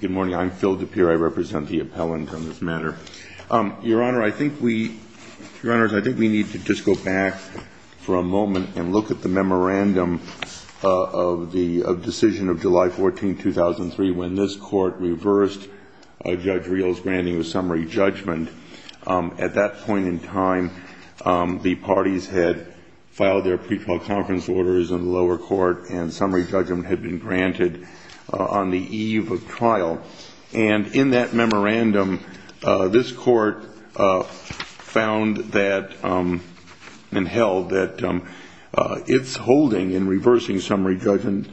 Good morning. I'm Phil DePere. I represent the appellant on this matter. Your Honor, I think we need to just go back for a moment and look at the memorandum of the decision of July 14, 2003, when this Court reversed Judge Rios' granting of summary judgment. At that point in time, the parties had filed their pretrial conference orders in the lower court and summary judgment had been granted. On the eve of trial, and in that memorandum, this Court found that and held that its holding in reversing summary judgment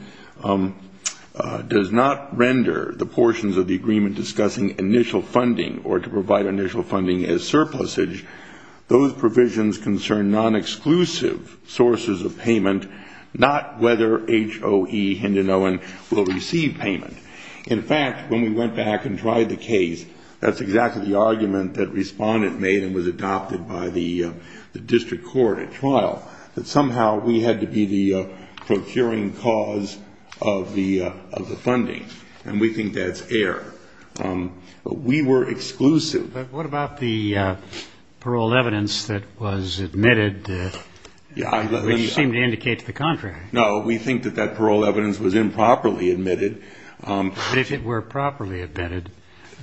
does not render the portions of the agreement discussing initial funding or to provide initial funding as surplusage. Those provisions concern non-exclusive sources of payment, not whether H.O.E. Hinden-Owen will receive payment. In fact, when we went back and tried the case, that's exactly the argument that Respondent made and was adopted by the district court at trial, that somehow we had to be the procuring cause of the funding. And we think that's error. We were exclusive. But what about the parole evidence that was admitted, which seemed to indicate the contrary? No, we think that that parole evidence was improperly admitted. But if it were properly admitted,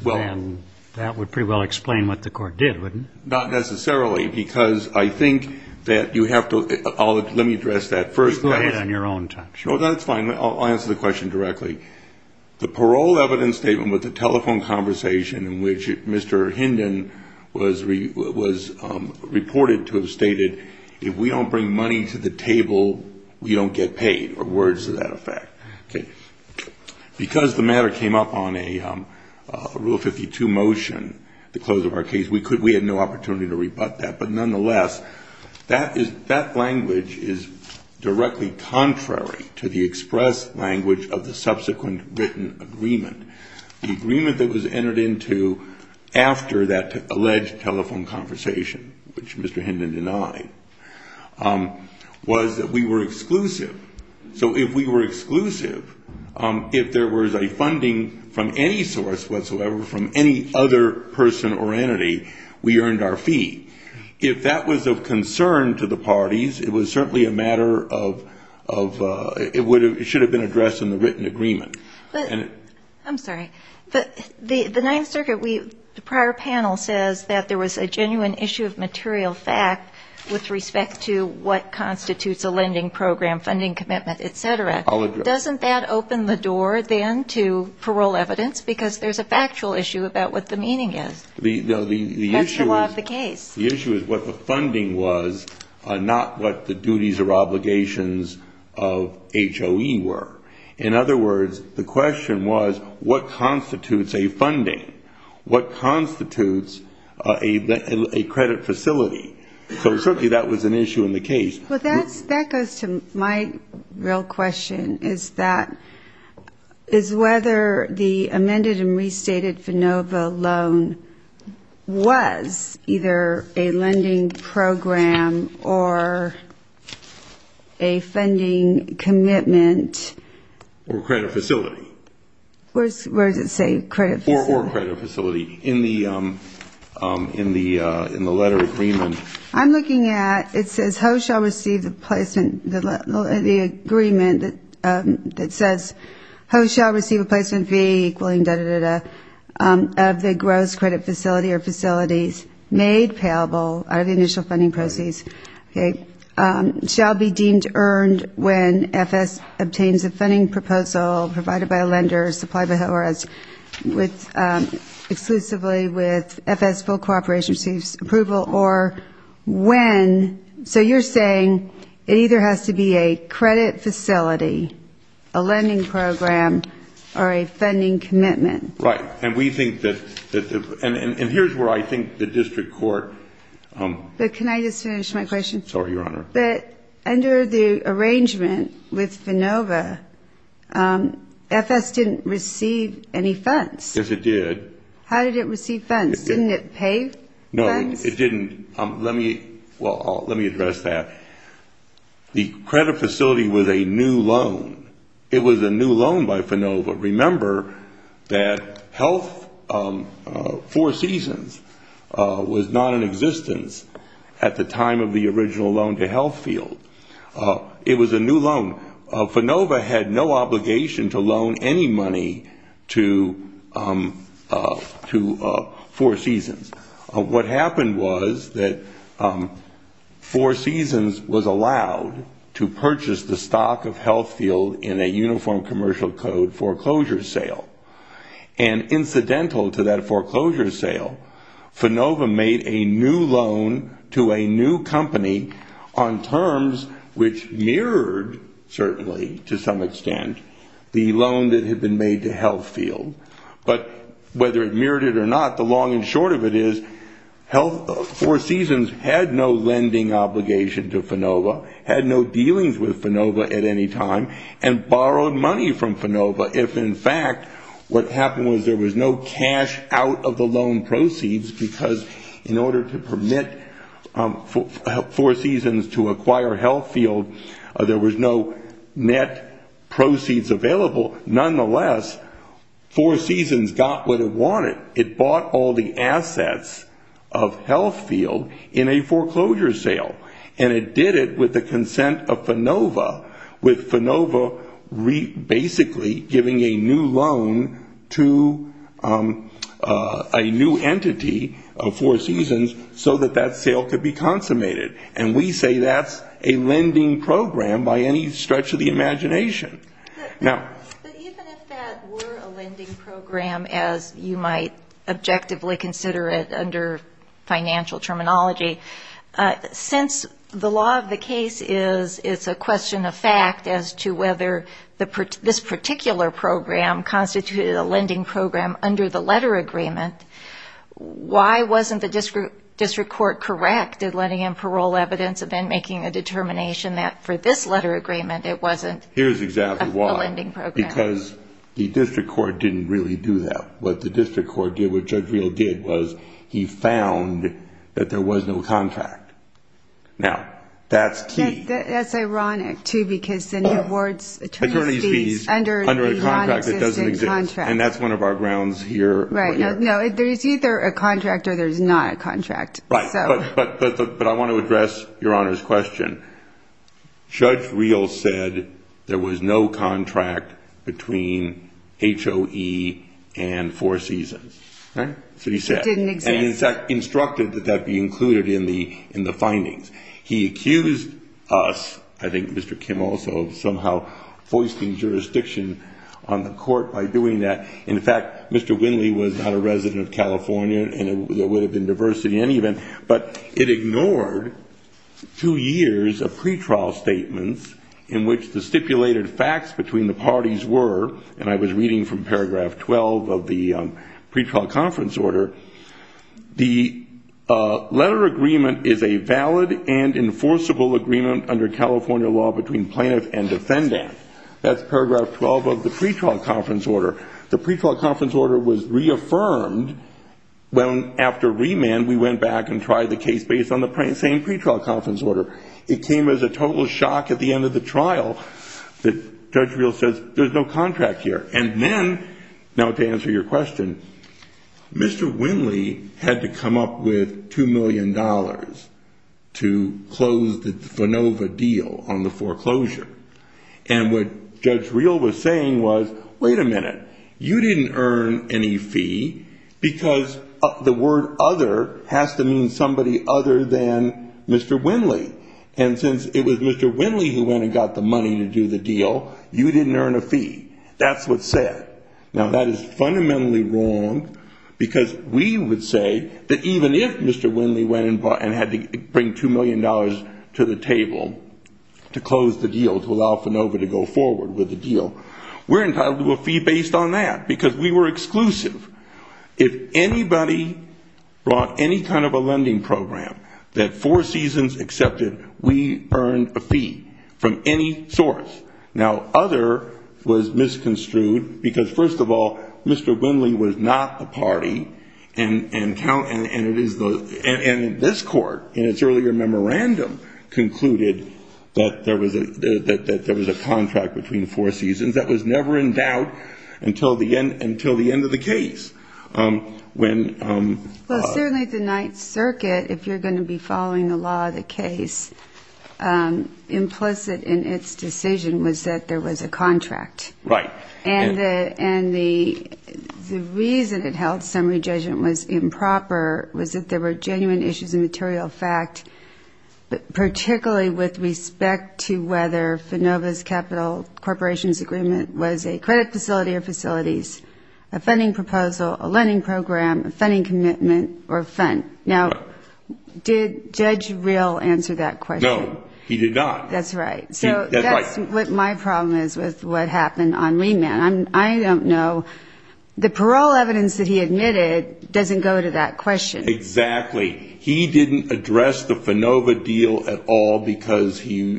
then that would pretty well explain what the Court did, wouldn't it? Not necessarily, because I think that you have to – let me address that first. Go ahead on your own time. Sure, that's fine. I'll answer the question directly. The parole evidence statement with the telephone conversation in which Mr. Hinden was reported to have stated, if we don't bring money to the table, we don't get paid, or words to that effect. Because the matter came up on a Rule 52 motion, the close of our case, we had no opportunity to rebut that. But nonetheless, that language is directly contrary to the express language of the subsequent written agreement. The agreement that was entered into after that alleged telephone conversation, which Mr. Hinden denied, was that we were exclusive. So if we were exclusive, if there was a funding from any source whatsoever, from any other person or entity, we earned our fee. If that was of concern to the parties, it was certainly a matter of – it should have been addressed in the written agreement. I'm sorry. The Ninth Circuit – the prior panel says that there was a genuine issue of material fact with respect to what constitutes a lending program, funding commitment, et cetera. Doesn't that open the door, then, to parole evidence? Because there's a factual issue about what the meaning is. That's the law of the case. The issue is what the funding was, not what the duties or obligations of HOE were. In other words, the question was, what constitutes a funding? What constitutes a credit facility? So certainly that was an issue in the case. Well, that goes to my real question, is that – is whether the amended and restated FANOVA loan was either a lending program or a funding commitment. Or credit facility. Where does it say credit facility? Or credit facility in the letter agreement. I'm looking at – it says HOE shall receive the placement – the agreement that says HOE shall receive a placement fee, equalling da-da-da-da, of the gross credit facility or facilities made payable out of the initial funding proceeds. Okay. Shall be deemed earned when FS obtains a funding proposal provided by a lender, exclusively with FS full cooperation, receives approval, or when – so you're saying it either has to be a credit facility, a lending program, or a funding commitment. Right. And we think that – and here's where I think the district court – But can I just finish my question? Sorry, Your Honor. But under the arrangement with FANOVA, FS didn't receive any funds. Yes, it did. How did it receive funds? Didn't it pay funds? No, it didn't. Let me – well, let me address that. The credit facility was a new loan. It was a new loan by FANOVA. Remember that health – Four Seasons was not in existence at the time of the original loan to Health Field. It was a new loan. FANOVA had no obligation to loan any money to Four Seasons. What happened was that Four Seasons was allowed to purchase the stock of Health Field in a uniform commercial code foreclosure sale. And incidental to that foreclosure sale, FANOVA made a new loan to a new company on terms which mirrored, certainly to some extent, the loan that had been made to Health Field. But whether it mirrored it or not, the long and short of it is Health – Four Seasons had no lending obligation to FANOVA, had no dealings with FANOVA at any time, and borrowed money from FANOVA if in fact what happened was there was no cash out of the loan proceeds because in order to permit Four Seasons to acquire Health Field, there was no net proceeds available. Nonetheless, Four Seasons got what it wanted. It bought all the assets of Health Field in a foreclosure sale. And it did it with the consent of FANOVA, with FANOVA basically giving a new loan to a new entity of Four Seasons so that that sale could be consummated. And we say that's a lending program by any stretch of the imagination. But even if that were a lending program as you might objectively consider it under financial terminology, since the law of the case is it's a question of fact as to whether this particular program constituted a lending program under the letter agreement, why wasn't the district court correct in letting in parole evidence and then making a determination that for this letter agreement it wasn't? Here's exactly why. It wasn't a lending program. Because the district court didn't really do that. What the district court did, what Judge Reel did was he found that there was no contract. Now, that's key. That's ironic too because then the board's attorney's fees under a non-existent contract. And that's one of our grounds here. No, there's either a contract or there's not a contract. Right, but I want to address Your Honor's question. Judge Reel said there was no contract between HOE and Four Seasons. That didn't exist. And, in fact, instructed that that be included in the findings. He accused us, I think Mr. Kim also, of somehow foisting jurisdiction on the court by doing that. In fact, Mr. Winley was not a resident of California, and there would have been diversity in any event, but it ignored two years of pretrial statements in which the stipulated facts between the parties were, and I was reading from paragraph 12 of the pretrial conference order, the letter agreement is a valid and enforceable agreement under California law between plaintiff and defendant. That's paragraph 12 of the pretrial conference order. The pretrial conference order was reaffirmed after remand. We went back and tried the case based on the same pretrial conference order. It came as a total shock at the end of the trial that Judge Reel says there's no contract here. And then, now to answer your question, Mr. Winley had to come up with $2 million to close the FANOVA deal on the foreclosure. And what Judge Reel was saying was, wait a minute, you didn't earn any fee, because the word other has to mean somebody other than Mr. Winley. And since it was Mr. Winley who went and got the money to do the deal, you didn't earn a fee. That's what's said. Now, that is fundamentally wrong, because we would say that even if Mr. Winley went and had to bring $2 million to the table to close the deal, to allow FANOVA to go forward with the deal, we're entitled to a fee based on that, because we were exclusive. If anybody brought any kind of a lending program that Four Seasons accepted, we earned a fee from any source. Now, other was misconstrued, because, first of all, Mr. Winley was not the party, and this Court, in its earlier memorandum, concluded that there was a contract between Four Seasons that was never endowed until the end of the case. Well, certainly the Ninth Circuit, if you're going to be following the law of the case, implicit in its decision was that there was a contract. Right. And the reason it held summary judgment was improper was that there were genuine issues of material fact, particularly with respect to whether FANOVA's capital corporations agreement was a credit facility or facilities, a funding proposal, a lending program, a funding commitment, or a fund. Now, did Judge Real answer that question? No, he did not. That's right. So that's what my problem is with what happened on remand. I don't know. The parole evidence that he admitted doesn't go to that question. Exactly. He didn't address the FANOVA deal at all because he,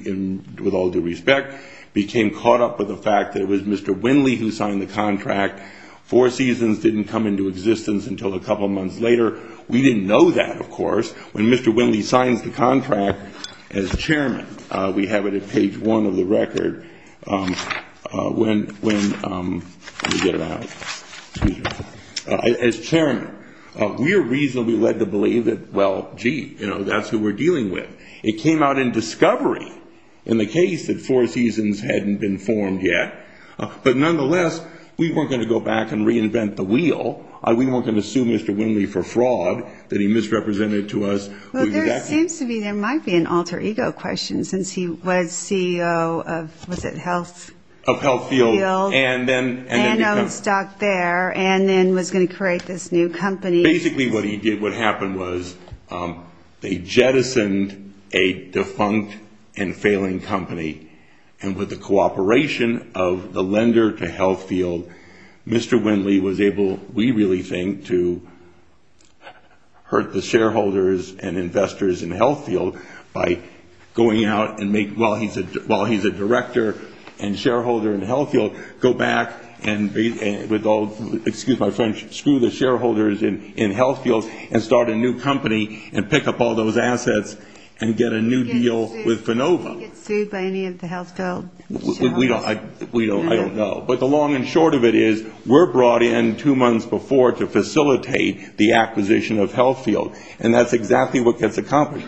with all due respect, became caught up with the fact that it was Mr. Winley who signed the contract. Four Seasons didn't come into existence until a couple months later. We didn't know that, of course, when Mr. Winley signs the contract as chairman. We have it at page one of the record when we get it out. As chairman, we are reasonably led to believe that, well, gee, that's who we're dealing with. It came out in discovery in the case that Four Seasons hadn't been formed yet. But nonetheless, we weren't going to go back and reinvent the wheel. We weren't going to sue Mr. Winley for fraud that he misrepresented to us. Well, there seems to be, there might be an alter ego question since he was CEO of, was it Health? Of Health Field. And then owned stock there and then was going to create this new company. Basically what he did, what happened was they jettisoned a defunct and failing company. And with the cooperation of the lender to Health Field, Mr. Winley was able, we really think, to hurt the shareholders and investors in Health Field by going out and make, while he's a director and shareholder in Health Field, go back and, with all, excuse my French, screw the shareholders in Health Field and start a new company and pick up all those assets and get a new deal with Phenova. Did he get sued by any of the health field? We don't, I don't know. But the long and short of it is we're brought in two months before to facilitate the acquisition of Health Field. And that's exactly what gets accomplished.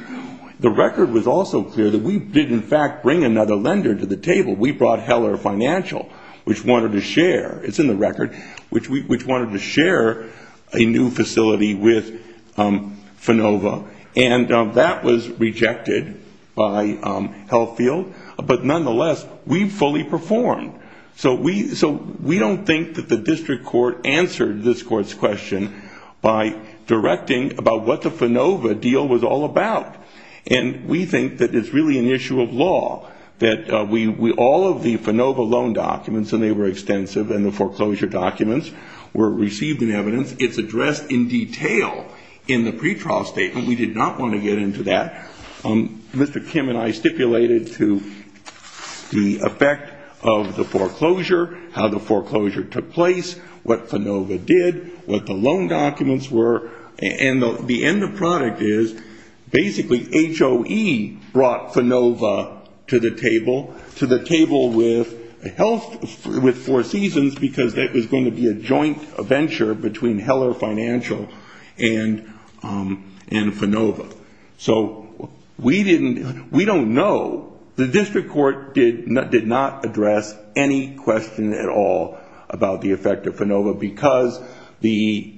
The record was also clear that we did, in fact, bring another lender to the table. We brought Heller Financial, which wanted to share, it's in the record, which wanted to share a new facility with Phenova. And that was rejected by Health Field. But nonetheless, we fully performed. So we don't think that the district court answered this court's question by directing about what the Phenova deal was all about. And we think that it's really an issue of law, that all of the Phenova loan documents, and they were extensive, and the foreclosure documents were received in evidence. It's addressed in detail in the pretrial statement. We did not want to get into that. Mr. Kim and I stipulated to the effect of the foreclosure, how the foreclosure took place, what Phenova did, what the loan documents were, and the end product is basically HOE brought Phenova to the table, to the table with Health, with Four Seasons, because it was going to be a joint venture between Heller Financial and Phenova. So we don't know. The district court did not address any question at all about the effect of Phenova, because the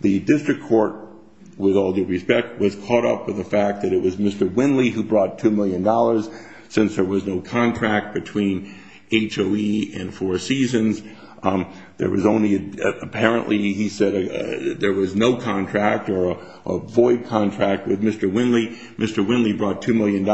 district court, with all due respect, was caught up with the fact that it was Mr. Winley who brought $2 million. Since there was no contract between HOE and Four Seasons, apparently he said there was no contract or a void contract with Mr. Winley. Mr. Winley brought $2 million,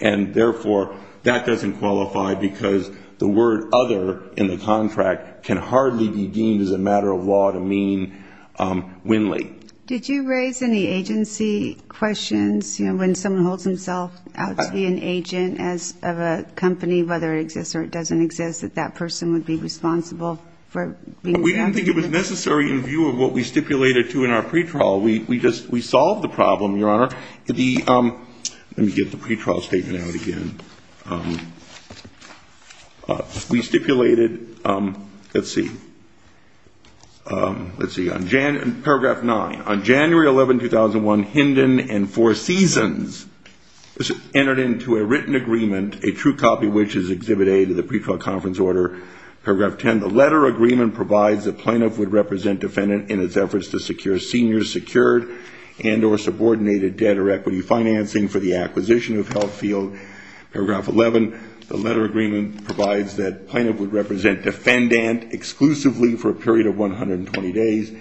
and therefore that doesn't qualify because the word other in the contract can hardly be deemed as a matter of law to mean Winley. Did you raise any agency questions? When someone holds himself out to be an agent of a company, whether it exists or it doesn't exist, that that person would be responsible? We didn't think it was necessary in view of what we stipulated to in our pre-trial. We solved the problem, Your Honor. Let me get the pre-trial statement out again. We stipulated, let's see. Let's see. Paragraph 9. On January 11, 2001, Hinden and Four Seasons entered into a written agreement, a true copy of which is Exhibit A to the pre-trial conference order. Paragraph 10. The letter agreement provides the plaintiff would represent defendant in its efforts to secure senior secured and or subordinated debt or equity financing for the acquisition of Health Field. Paragraph 11. The letter agreement provides that plaintiff would represent defendant exclusively for a period of 120 days.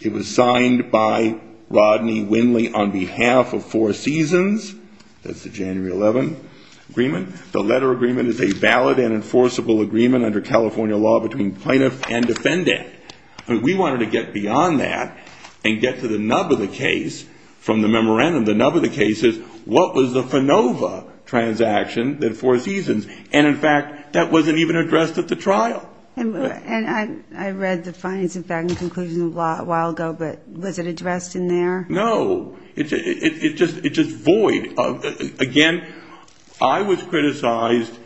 It was signed by Rodney Winley on behalf of Four Seasons. That's the January 11 agreement. The letter agreement is a valid and enforceable agreement under California law between plaintiff and defendant. We wanted to get beyond that and get to the nub of the case from the memorandum. The nub of the case is what was the FANOVA transaction that Four Seasons. And, in fact, that wasn't even addressed at the trial. And I read the finance and banking conclusion a while ago, but was it addressed in there? No. It's just void. Again, I was criticized,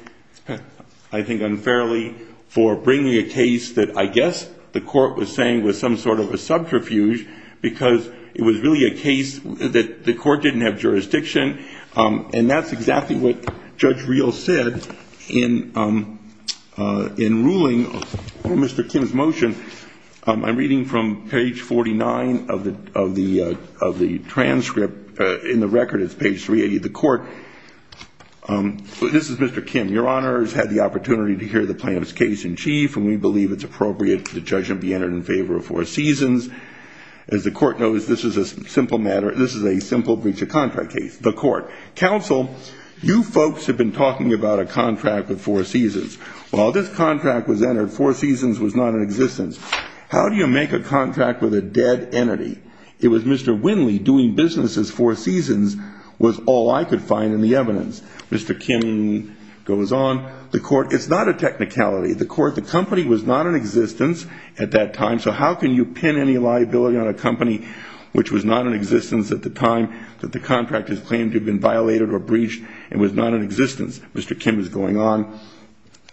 I think unfairly, for bringing a case that I guess the court was saying was some sort of a subterfuge because it was really a case that the court didn't have jurisdiction. And that's exactly what Judge Reel said in ruling on Mr. Kim's motion. I'm reading from page 49 of the transcript. In the record, it's page 380. The court, this is Mr. Kim. Your Honor has had the opportunity to hear the plaintiff's case in chief, and we believe it's appropriate for the judge to be entered in favor of Four Seasons. As the court knows, this is a simple breach of contract case. The court. Counsel, you folks have been talking about a contract with Four Seasons. While this contract was entered, Four Seasons was not in existence. How do you make a contract with a dead entity? It was Mr. Winley doing business as Four Seasons was all I could find in the evidence. Mr. Kim goes on. The court, it's not a technicality. The court, the company was not in existence at that time, so how can you pin any liability on a company which was not in existence at the time that the contract is claimed to have been violated or breached and was not in existence? Mr. Kim is going on.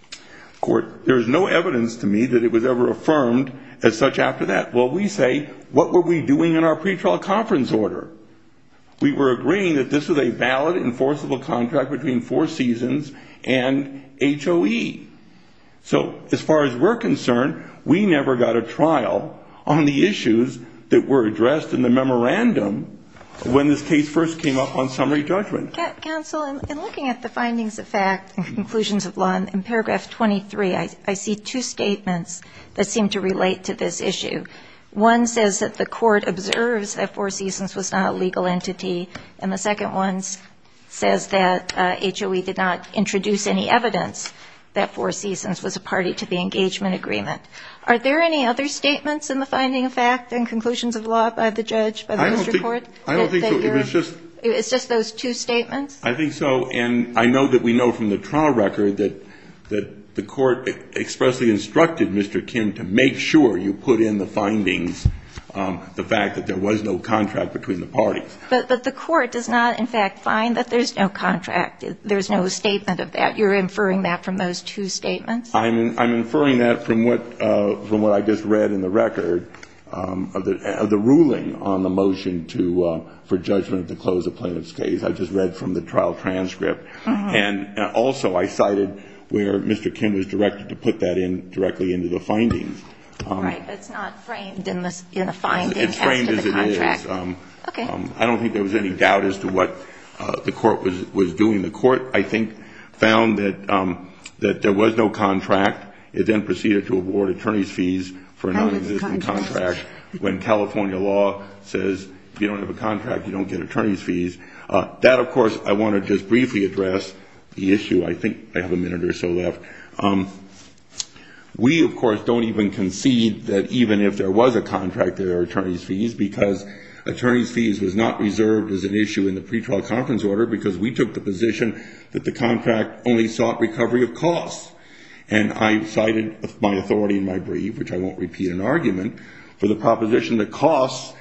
The court, there is no evidence to me that it was ever affirmed as such after that. Well, we say, what were we doing in our pretrial conference order? We were agreeing that this was a valid enforceable contract between Four Seasons and HOE. So as far as we're concerned, we never got a trial on the issues that were addressed in the memorandum when this case first came up on summary judgment. Counsel, in looking at the findings of fact and conclusions of law in paragraph 23, I see two statements that seem to relate to this issue. One says that the court observes that Four Seasons was not a legal entity, and the second one says that HOE did not introduce any evidence that Four Seasons was a party to the engagement agreement. Are there any other statements in the finding of fact and conclusions of law by the judge, by the district court? I don't think so. It's just those two statements? I think so. And I know that we know from the trial record that the court expressly instructed Mr. Kim to make sure you put in the findings the fact that there was no contract between the parties. But the court does not, in fact, find that there's no contract, there's no statement of that. You're inferring that from those two statements? I'm inferring that from what I just read in the record of the ruling on the motion for judgment to close a plaintiff's case. I just read from the trial transcript. And also I cited where Mr. Kim was directed to put that in directly into the findings. All right. But it's not framed in a finding as to the contract. It's framed as it is. Okay. I don't think there was any doubt as to what the court was doing. The court, I think, found that there was no contract. It then proceeded to award attorney's fees for a non-existent contract when California law says if you don't have a contract, you don't get attorney's fees. That, of course, I want to just briefly address the issue. I think I have a minute or so left. We, of course, don't even concede that even if there was a contract, there were attorney's fees, because attorney's fees was not reserved as an issue in the pretrial conference order because we took the position that the contract only sought recovery of costs. And I cited my authority in my brief, which I won't repeat in argument, for the proposition that costs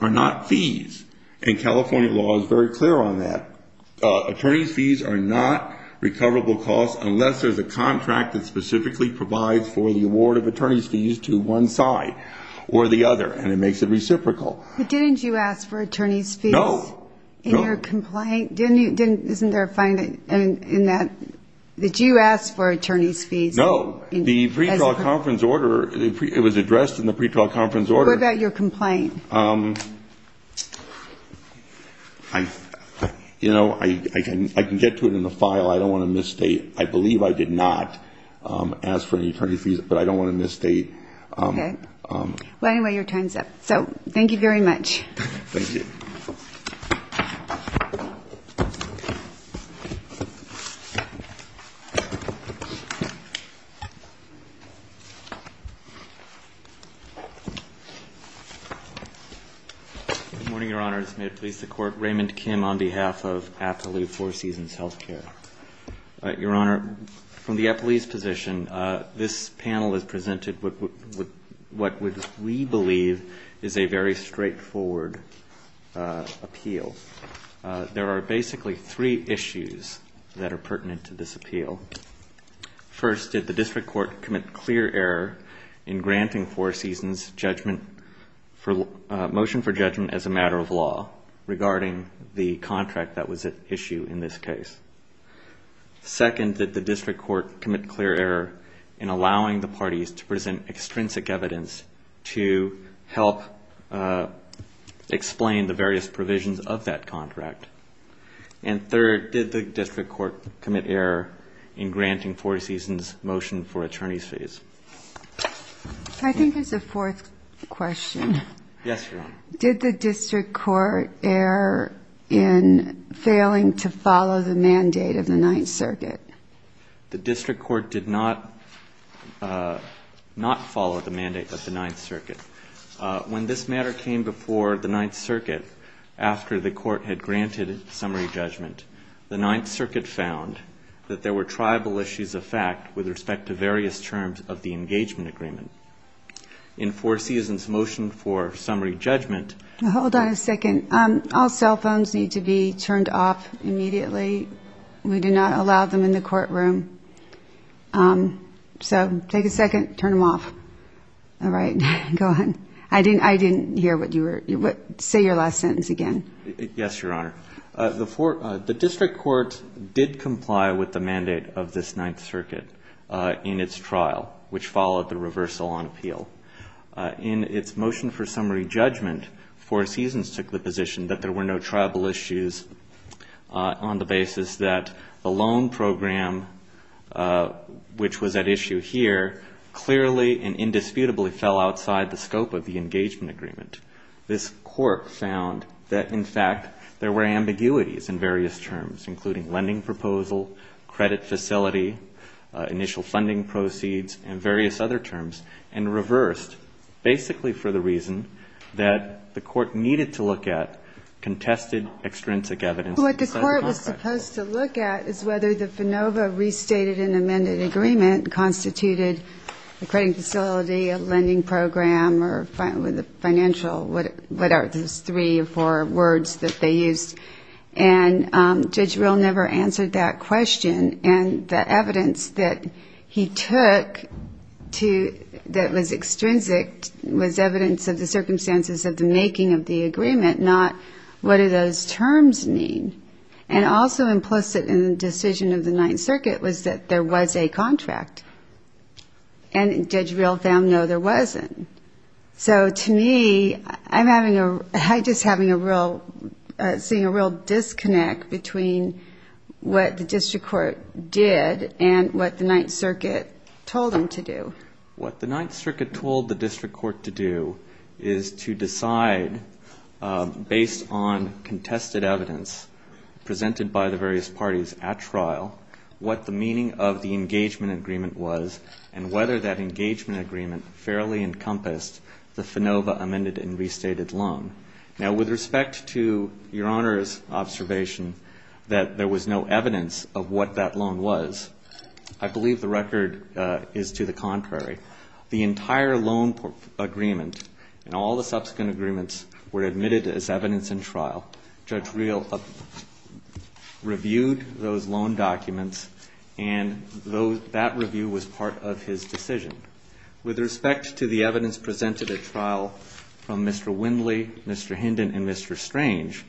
are not fees. And California law is very clear on that. Attorney's fees are not recoverable costs unless there's a contract that specifically provides for the award of attorney's fees to one side or the other. And it makes it reciprocal. But didn't you ask for attorney's fees? No. In your complaint? Isn't there a fine in that? Did you ask for attorney's fees? No. The pretrial conference order, it was addressed in the pretrial conference order. What about your complaint? You know, I can get to it in the file. I don't want to misstate. I believe I did not ask for any attorney's fees, but I don't want to misstate. Okay. Well, anyway, your time's up. So thank you very much. Thank you. Good morning, Your Honor. This may please the Court. Raymond Kim on behalf of Appaloof Four Seasons Healthcare. Your Honor, from the appellee's position, this panel has presented what we believe is a very straightforward appeal. There are basically three issues that are pertinent to this appeal. First, did the district court commit clear error in granting Four Seasons' motion for judgment as a matter of law regarding the contract that was at issue in this case? Second, did the district court commit clear error in allowing the parties to present extrinsic evidence to help explain the various provisions of that contract? And third, did the district court commit error in granting Four Seasons' motion for attorney's fees? I think there's a fourth question. Yes, Your Honor. Did the district court err in failing to follow the mandate of the Ninth Circuit? The district court did not follow the mandate of the Ninth Circuit. When this matter came before the Ninth Circuit, after the court had granted summary judgment, the Ninth Circuit found that there were tribal issues of fact with respect to various terms of the engagement agreement. In Four Seasons' motion for summary judgment- Hold on a second. All cell phones need to be turned off immediately. We do not allow them in the courtroom. So take a second, turn them off. All right. Go ahead. I didn't hear what you were- say your last sentence again. Yes, Your Honor. The district court did comply with the mandate of this Ninth Circuit in its trial, which followed the reversal on appeal. In its motion for summary judgment, Four Seasons took the position that there were no tribal issues on the basis that the loan program, which was at issue here, clearly and indisputably fell outside the scope of the engagement agreement. This court found that, in fact, there were ambiguities in various terms, including lending proposal, credit facility, initial funding proceeds, and various other terms, and reversed, basically for the reason that the court needed to look at contested extrinsic evidence- What it was supposed to look at is whether the FANOVA restated and amended agreement constituted a credit facility, a lending program, or financial, whatever those three or four words that they used. And Judge Rill never answered that question. And the evidence that he took that was extrinsic was evidence of the circumstances of the making of the agreement, not what do those terms mean. And also implicit in the decision of the Ninth Circuit was that there was a contract. And Judge Rill found, no, there wasn't. So, to me, I'm just having a real, seeing a real disconnect between what the district court did and what the Ninth Circuit told them to do. What the Ninth Circuit told the district court to do is to decide, based on contested evidence presented by the various parties at trial, what the meaning of the engagement agreement was and whether that engagement agreement fairly encompassed the FANOVA amended and restated loan. Now, with respect to Your Honor's observation that there was no evidence of what that loan was, I believe the record is to the contrary. The entire loan agreement and all the subsequent agreements were admitted as evidence in trial. Judge Rill reviewed those loan documents, and that review was part of his decision. With respect to the evidence presented at trial from Mr. Windley, Mr. Hinden, and Mr. Strange,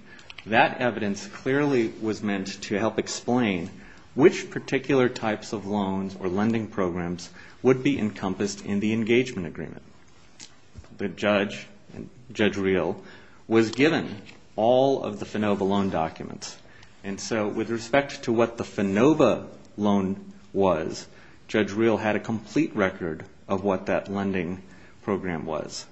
that evidence clearly was meant to help explain which particular types of loans or lending programs would be encompassed in the engagement agreement. The judge, Judge Rill, was given all of the FANOVA loan documents. And so with respect to what the FANOVA loan was, Judge Rill had a complete record of what that lending program was.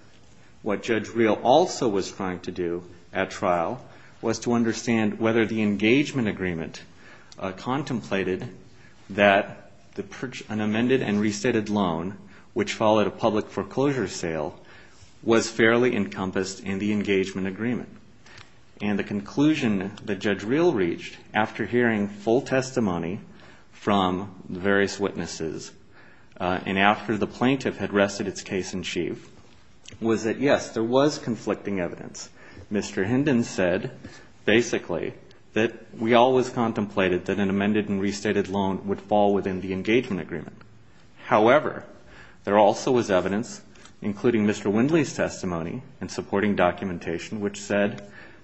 What Judge Rill also was trying to do at trial was to understand whether the engagement agreement contemplated that an amended and restated loan, which followed a public foreclosure sale, was fairly encompassed in the engagement agreement. And the conclusion that Judge Rill reached after hearing full testimony from the various witnesses and after the plaintiff had rested its case in chief was that, yes, there was conflicting evidence. Mr. Hinden said, basically, that we always contemplated that an amended and restated loan would fall within the engagement agreement. However, there also was evidence, including Mr. Windley's testimony and supporting documentation,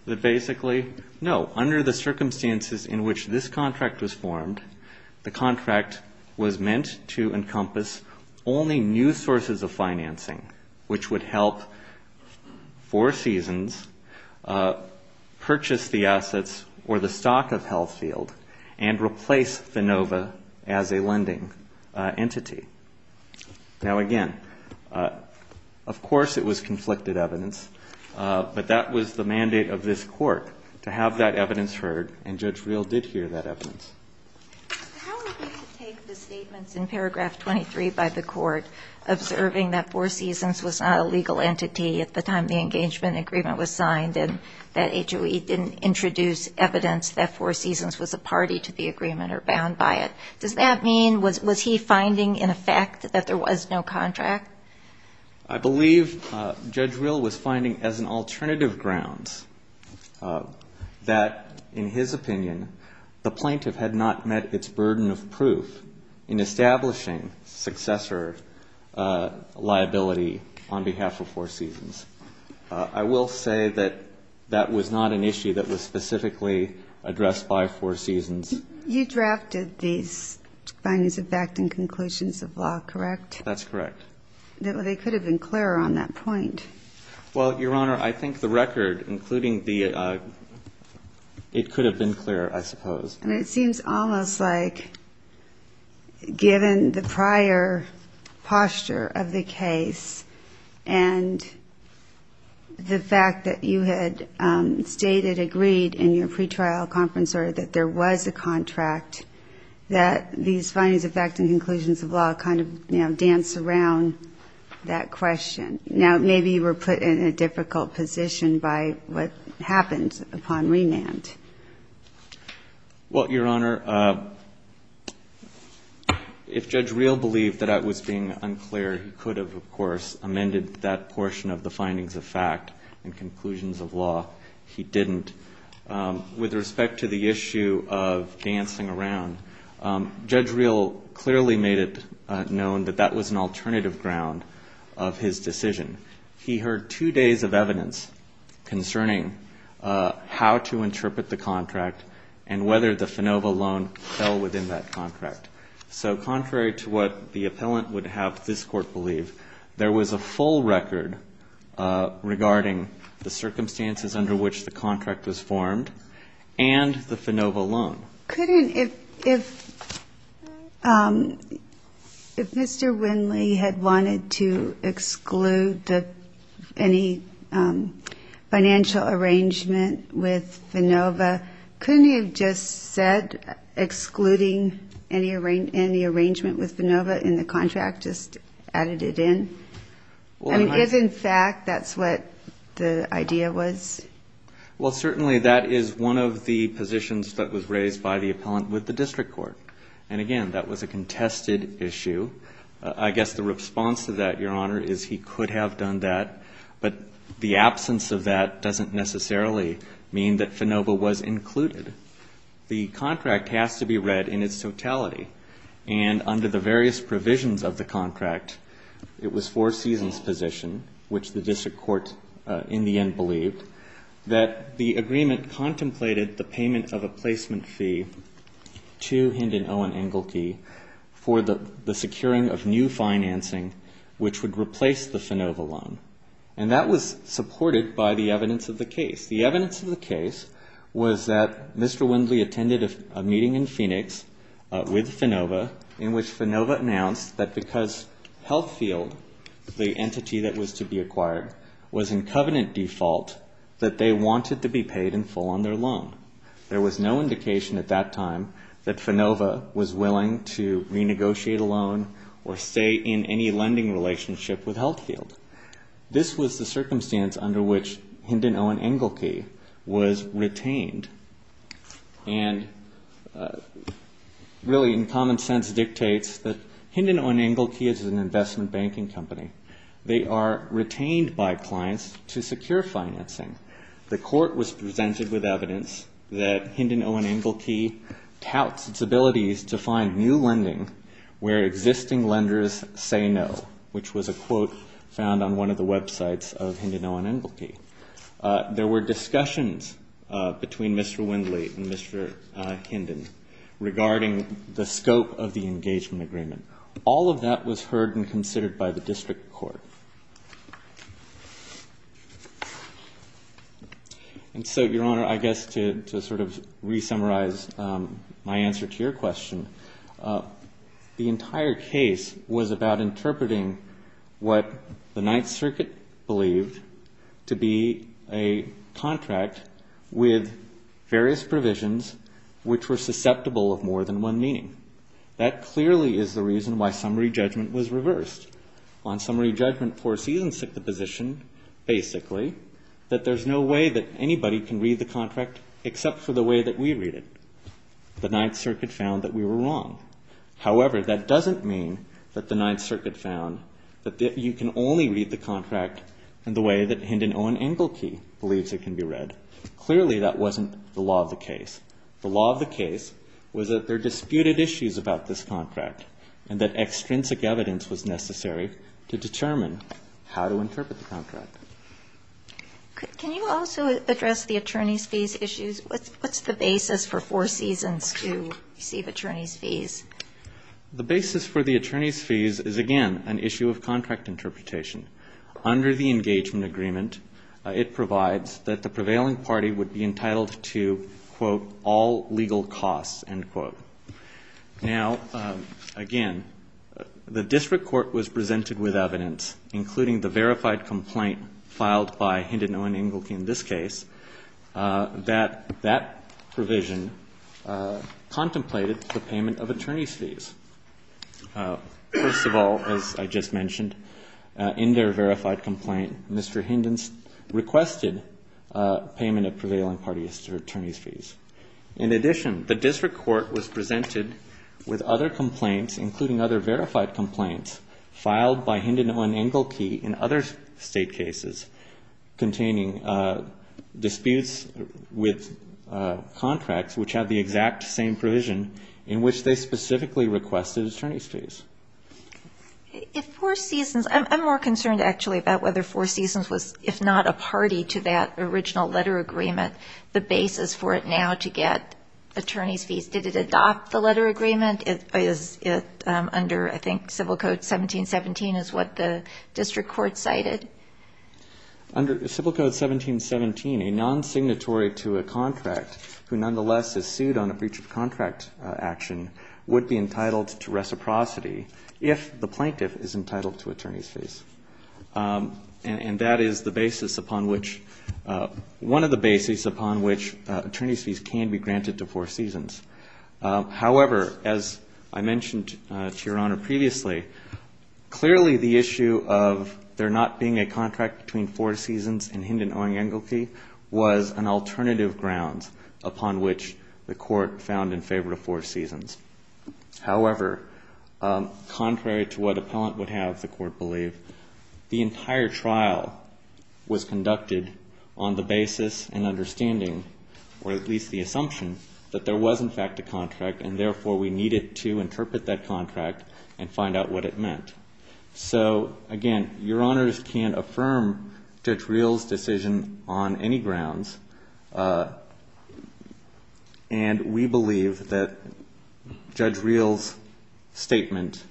that basically, no, under the circumstances in which this contract was formed, the contract was meant to encompass only new sources of financing, which would help Four Seasons purchase the assets or the stock of Health Field and replace FANOVA as a lending entity. Now, again, of course it was conflicted evidence, but that was the mandate of this court, to have that evidence heard, and Judge Rill did hear that evidence. How would you take the statements in paragraph 23 by the court observing that Four Seasons was not a legal entity at the time the engagement agreement was signed and that HOE didn't introduce evidence that Four Seasons was a party to the agreement or bound by it? Does that mean, was he finding in effect that there was no contract? I believe Judge Rill was finding as an alternative grounds that, in his opinion, the plaintiff had not met its burden of proof in establishing successor liability on behalf of Four Seasons. I will say that that was not an issue that was specifically addressed by Four Seasons. You drafted these findings of fact and conclusions of law, correct? That's correct. They could have been clearer on that point. Well, Your Honor, I think the record, including the ‑‑ it could have been clearer, I suppose. I mean, it seems almost like, given the prior posture of the case and the fact that you had stated, agreed in your pretrial conference, or that there was a contract, that these findings of fact and conclusions of law kind of dance around that question. Now, maybe you were put in a difficult position by what you're saying. Well, Your Honor, if Judge Rill believed that that was being unclear, he could have, of course, amended that portion of the findings of fact and conclusions of law. He didn't. With respect to the issue of dancing around, Judge Rill clearly made it known that that was an alternative ground of his decision. He heard two days of evidence concerning how to interpret the contract and whether the FANOVA loan fell within that contract. So contrary to what the appellant would have this court believe, there was a full record regarding the circumstances under which the contract was formed and the FANOVA loan. Couldn't ‑‑ if Mr. Winley had wanted to exclude any ‑‑ if Mr. Winley had wanted to exclude any of the FANOVA loans, he could have made a financial arrangement with FANOVA. Couldn't he have just said, excluding any arrangement with FANOVA in the contract, just added it in? I mean, if in fact that's what the idea was? Well, certainly that is one of the positions that was raised by the appellant with the district court. And, again, that was a contested issue. I guess the response to that, Your Honor, is he could have done that. But the absence of that in the case of the FANOVA loan, I don't know. But that doesn't necessarily mean that FANOVA was included. The contract has to be read in its totality. And under the various provisions of the contract, it was Four Seasons' position, which the district court in the end believed, that the agreement contemplated the payment of a placement fee to Hind and Owen Engelke for the securing of new financing, which would replace the FANOVA loan. And that was supported by the evidence that the FANOVA loan was included. So what was the evidence of the case? The evidence of the case was that Mr. Wendley attended a meeting in Phoenix with FANOVA, in which FANOVA announced that because Healthfield, the entity that was to be acquired, was in covenant default, that they wanted to be paid in full on their loan. There was no indication at that time that FANOVA was willing to renegotiate a loan or stay in any lending relationship with Healthfield. This was the circumstance under which Hind and Owen Engelke were to be paid in full on their loan. And really, in common sense, dictates that Hind and Owen Engelke is an investment banking company. They are retained by clients to secure financing. The court was presented with evidence that Hind and Owen Engelke touts its abilities to find new lending where existing lenders say no, which was a quote found on one of the websites of Hind and Owen Engelke. There were discussions between Mr. Wendley and Mr. Hinden regarding the scope of the engagement agreement. All of that was heard and considered by the district court. And so, Your Honor, I guess to sort of re-summarize my answer to your question, the entire case was about interpreting what the Ninth Circuit believed to be a contract with various provisions which were susceptible of more than one meaning. That clearly is the reason why summary judgment was reversed. On summary judgment, four seasons took the position, basically, that there's no way that anybody can read the contract except for the way that we read it. The Ninth Circuit found that we were wrong. And that extrinsic evidence was necessary to determine how to interpret the contract. Can you also address the attorney's fees issues? What's the basis for four seasons to receive attorney's fees? The basis for the attorney's fees is, again, an issue of contract interpretation. Under the engagement agreement, it provides that the prevailing party would be entitled to, quote, all legal costs, end quote. Now, again, the district court was presented with evidence, including the verified complaint filed by Hinden, Owen, Engelke in this case, that that provision contemplated the payment of attorney's fees. First of all, as I just mentioned, in their verified complaint, Mr. Hinden requested payment of prevailing party attorney's fees. In addition, the district court was presented with other complaints, including other verified complaints filed by Hinden, Owen, Engelke in other state cases, containing disputes with contracts, which have the exact same provision in which they specifically requested attorney's fees. If four seasons — I'm more concerned, actually, about whether four seasons was, if not a party to that original letter agreement, the basis for it now to get attorney's fees. Did it adopt the letter agreement? Is it under, I think, Civil Code 1717 is what the district court cited? Under Civil Code 1717, a non-signatory to a contract who nonetheless is sued on a breach of contract action would be entitled to reciprocity if the plaintiff is entitled to attorney's fees. And that is the basis upon which — one of the bases upon which attorney's fees can be granted to four seasons. However, as I mentioned to Your Honor previously, clearly the issue of there not being a contract between four seasons and Hinden, Owen, Engelke was an alternative ground upon which the Court found in favor of four seasons. However, contrary to what appellant would have, the Court believed, the entire trial was conducted on the basis and understanding, or at least the assumption, that there was, in fact, a contract and, therefore, we needed to interpret that contract and find out what it meant. So, again, Your Honors can't affirm Judge Reel's decision on any grounds, and we believe that Judge Reel's statement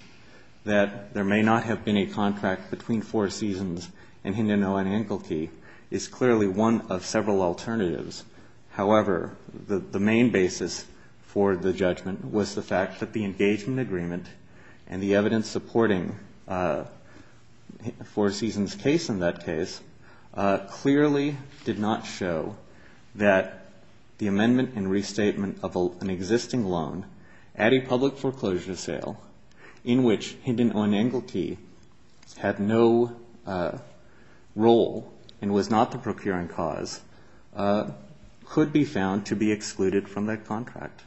that there may not have been a contract between four seasons and Hinden, Owen, Engelke is clearly one of several alternatives. However, the main basis for the judgment was the fact that the engagement agreement and the evidence supporting four seasons' case in that case clearly did not show that the amendment and restatement of an existing loan at a public foreclosure sale in which Hinden, Owen, Engelke had no role and was not the procuring cause, could be found to be excluded from that contract.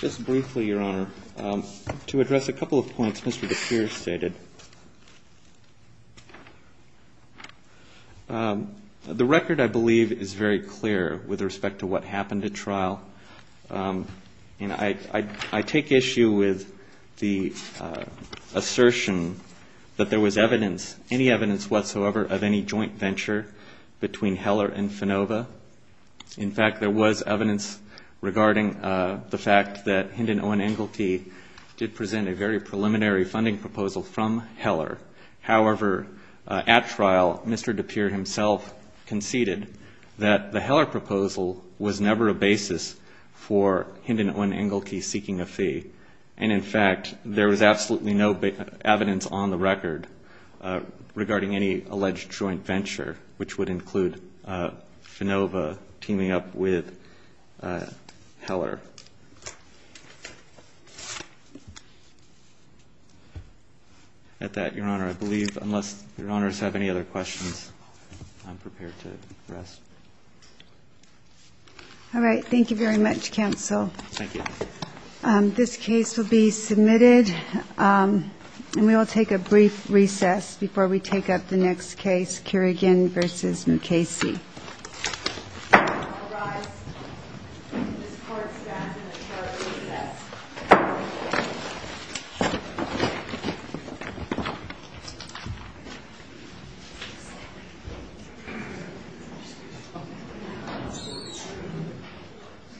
Just briefly, Your Honor, to address a couple of points Mr. DePierre stated, the record, I believe, is very clear with respect to what happened at trial. I take issue with the assertion that there was evidence, any evidence whatsoever, of any joint venture between Heller and Finova. In fact, there was evidence regarding the fact that Hinden, Owen, Engelke did present a very preliminary funding proposal from Heller. However, at trial, Mr. DePierre himself conceded that the Heller proposal was never a basis for Hinden, Owen, Engelke seeking a fee. And in fact, there was absolutely no evidence on the record regarding any alleged joint venture, which would include Finova teaming up with Heller. At that, Your Honor, I believe, unless Your Honors have any other questions, I'm prepared to rest. All right. Thank you very much, counsel. This case will be submitted, and we will take a brief recess before we take up the next case, Kerrigan v. Mukasey. Thank you, Your Honor.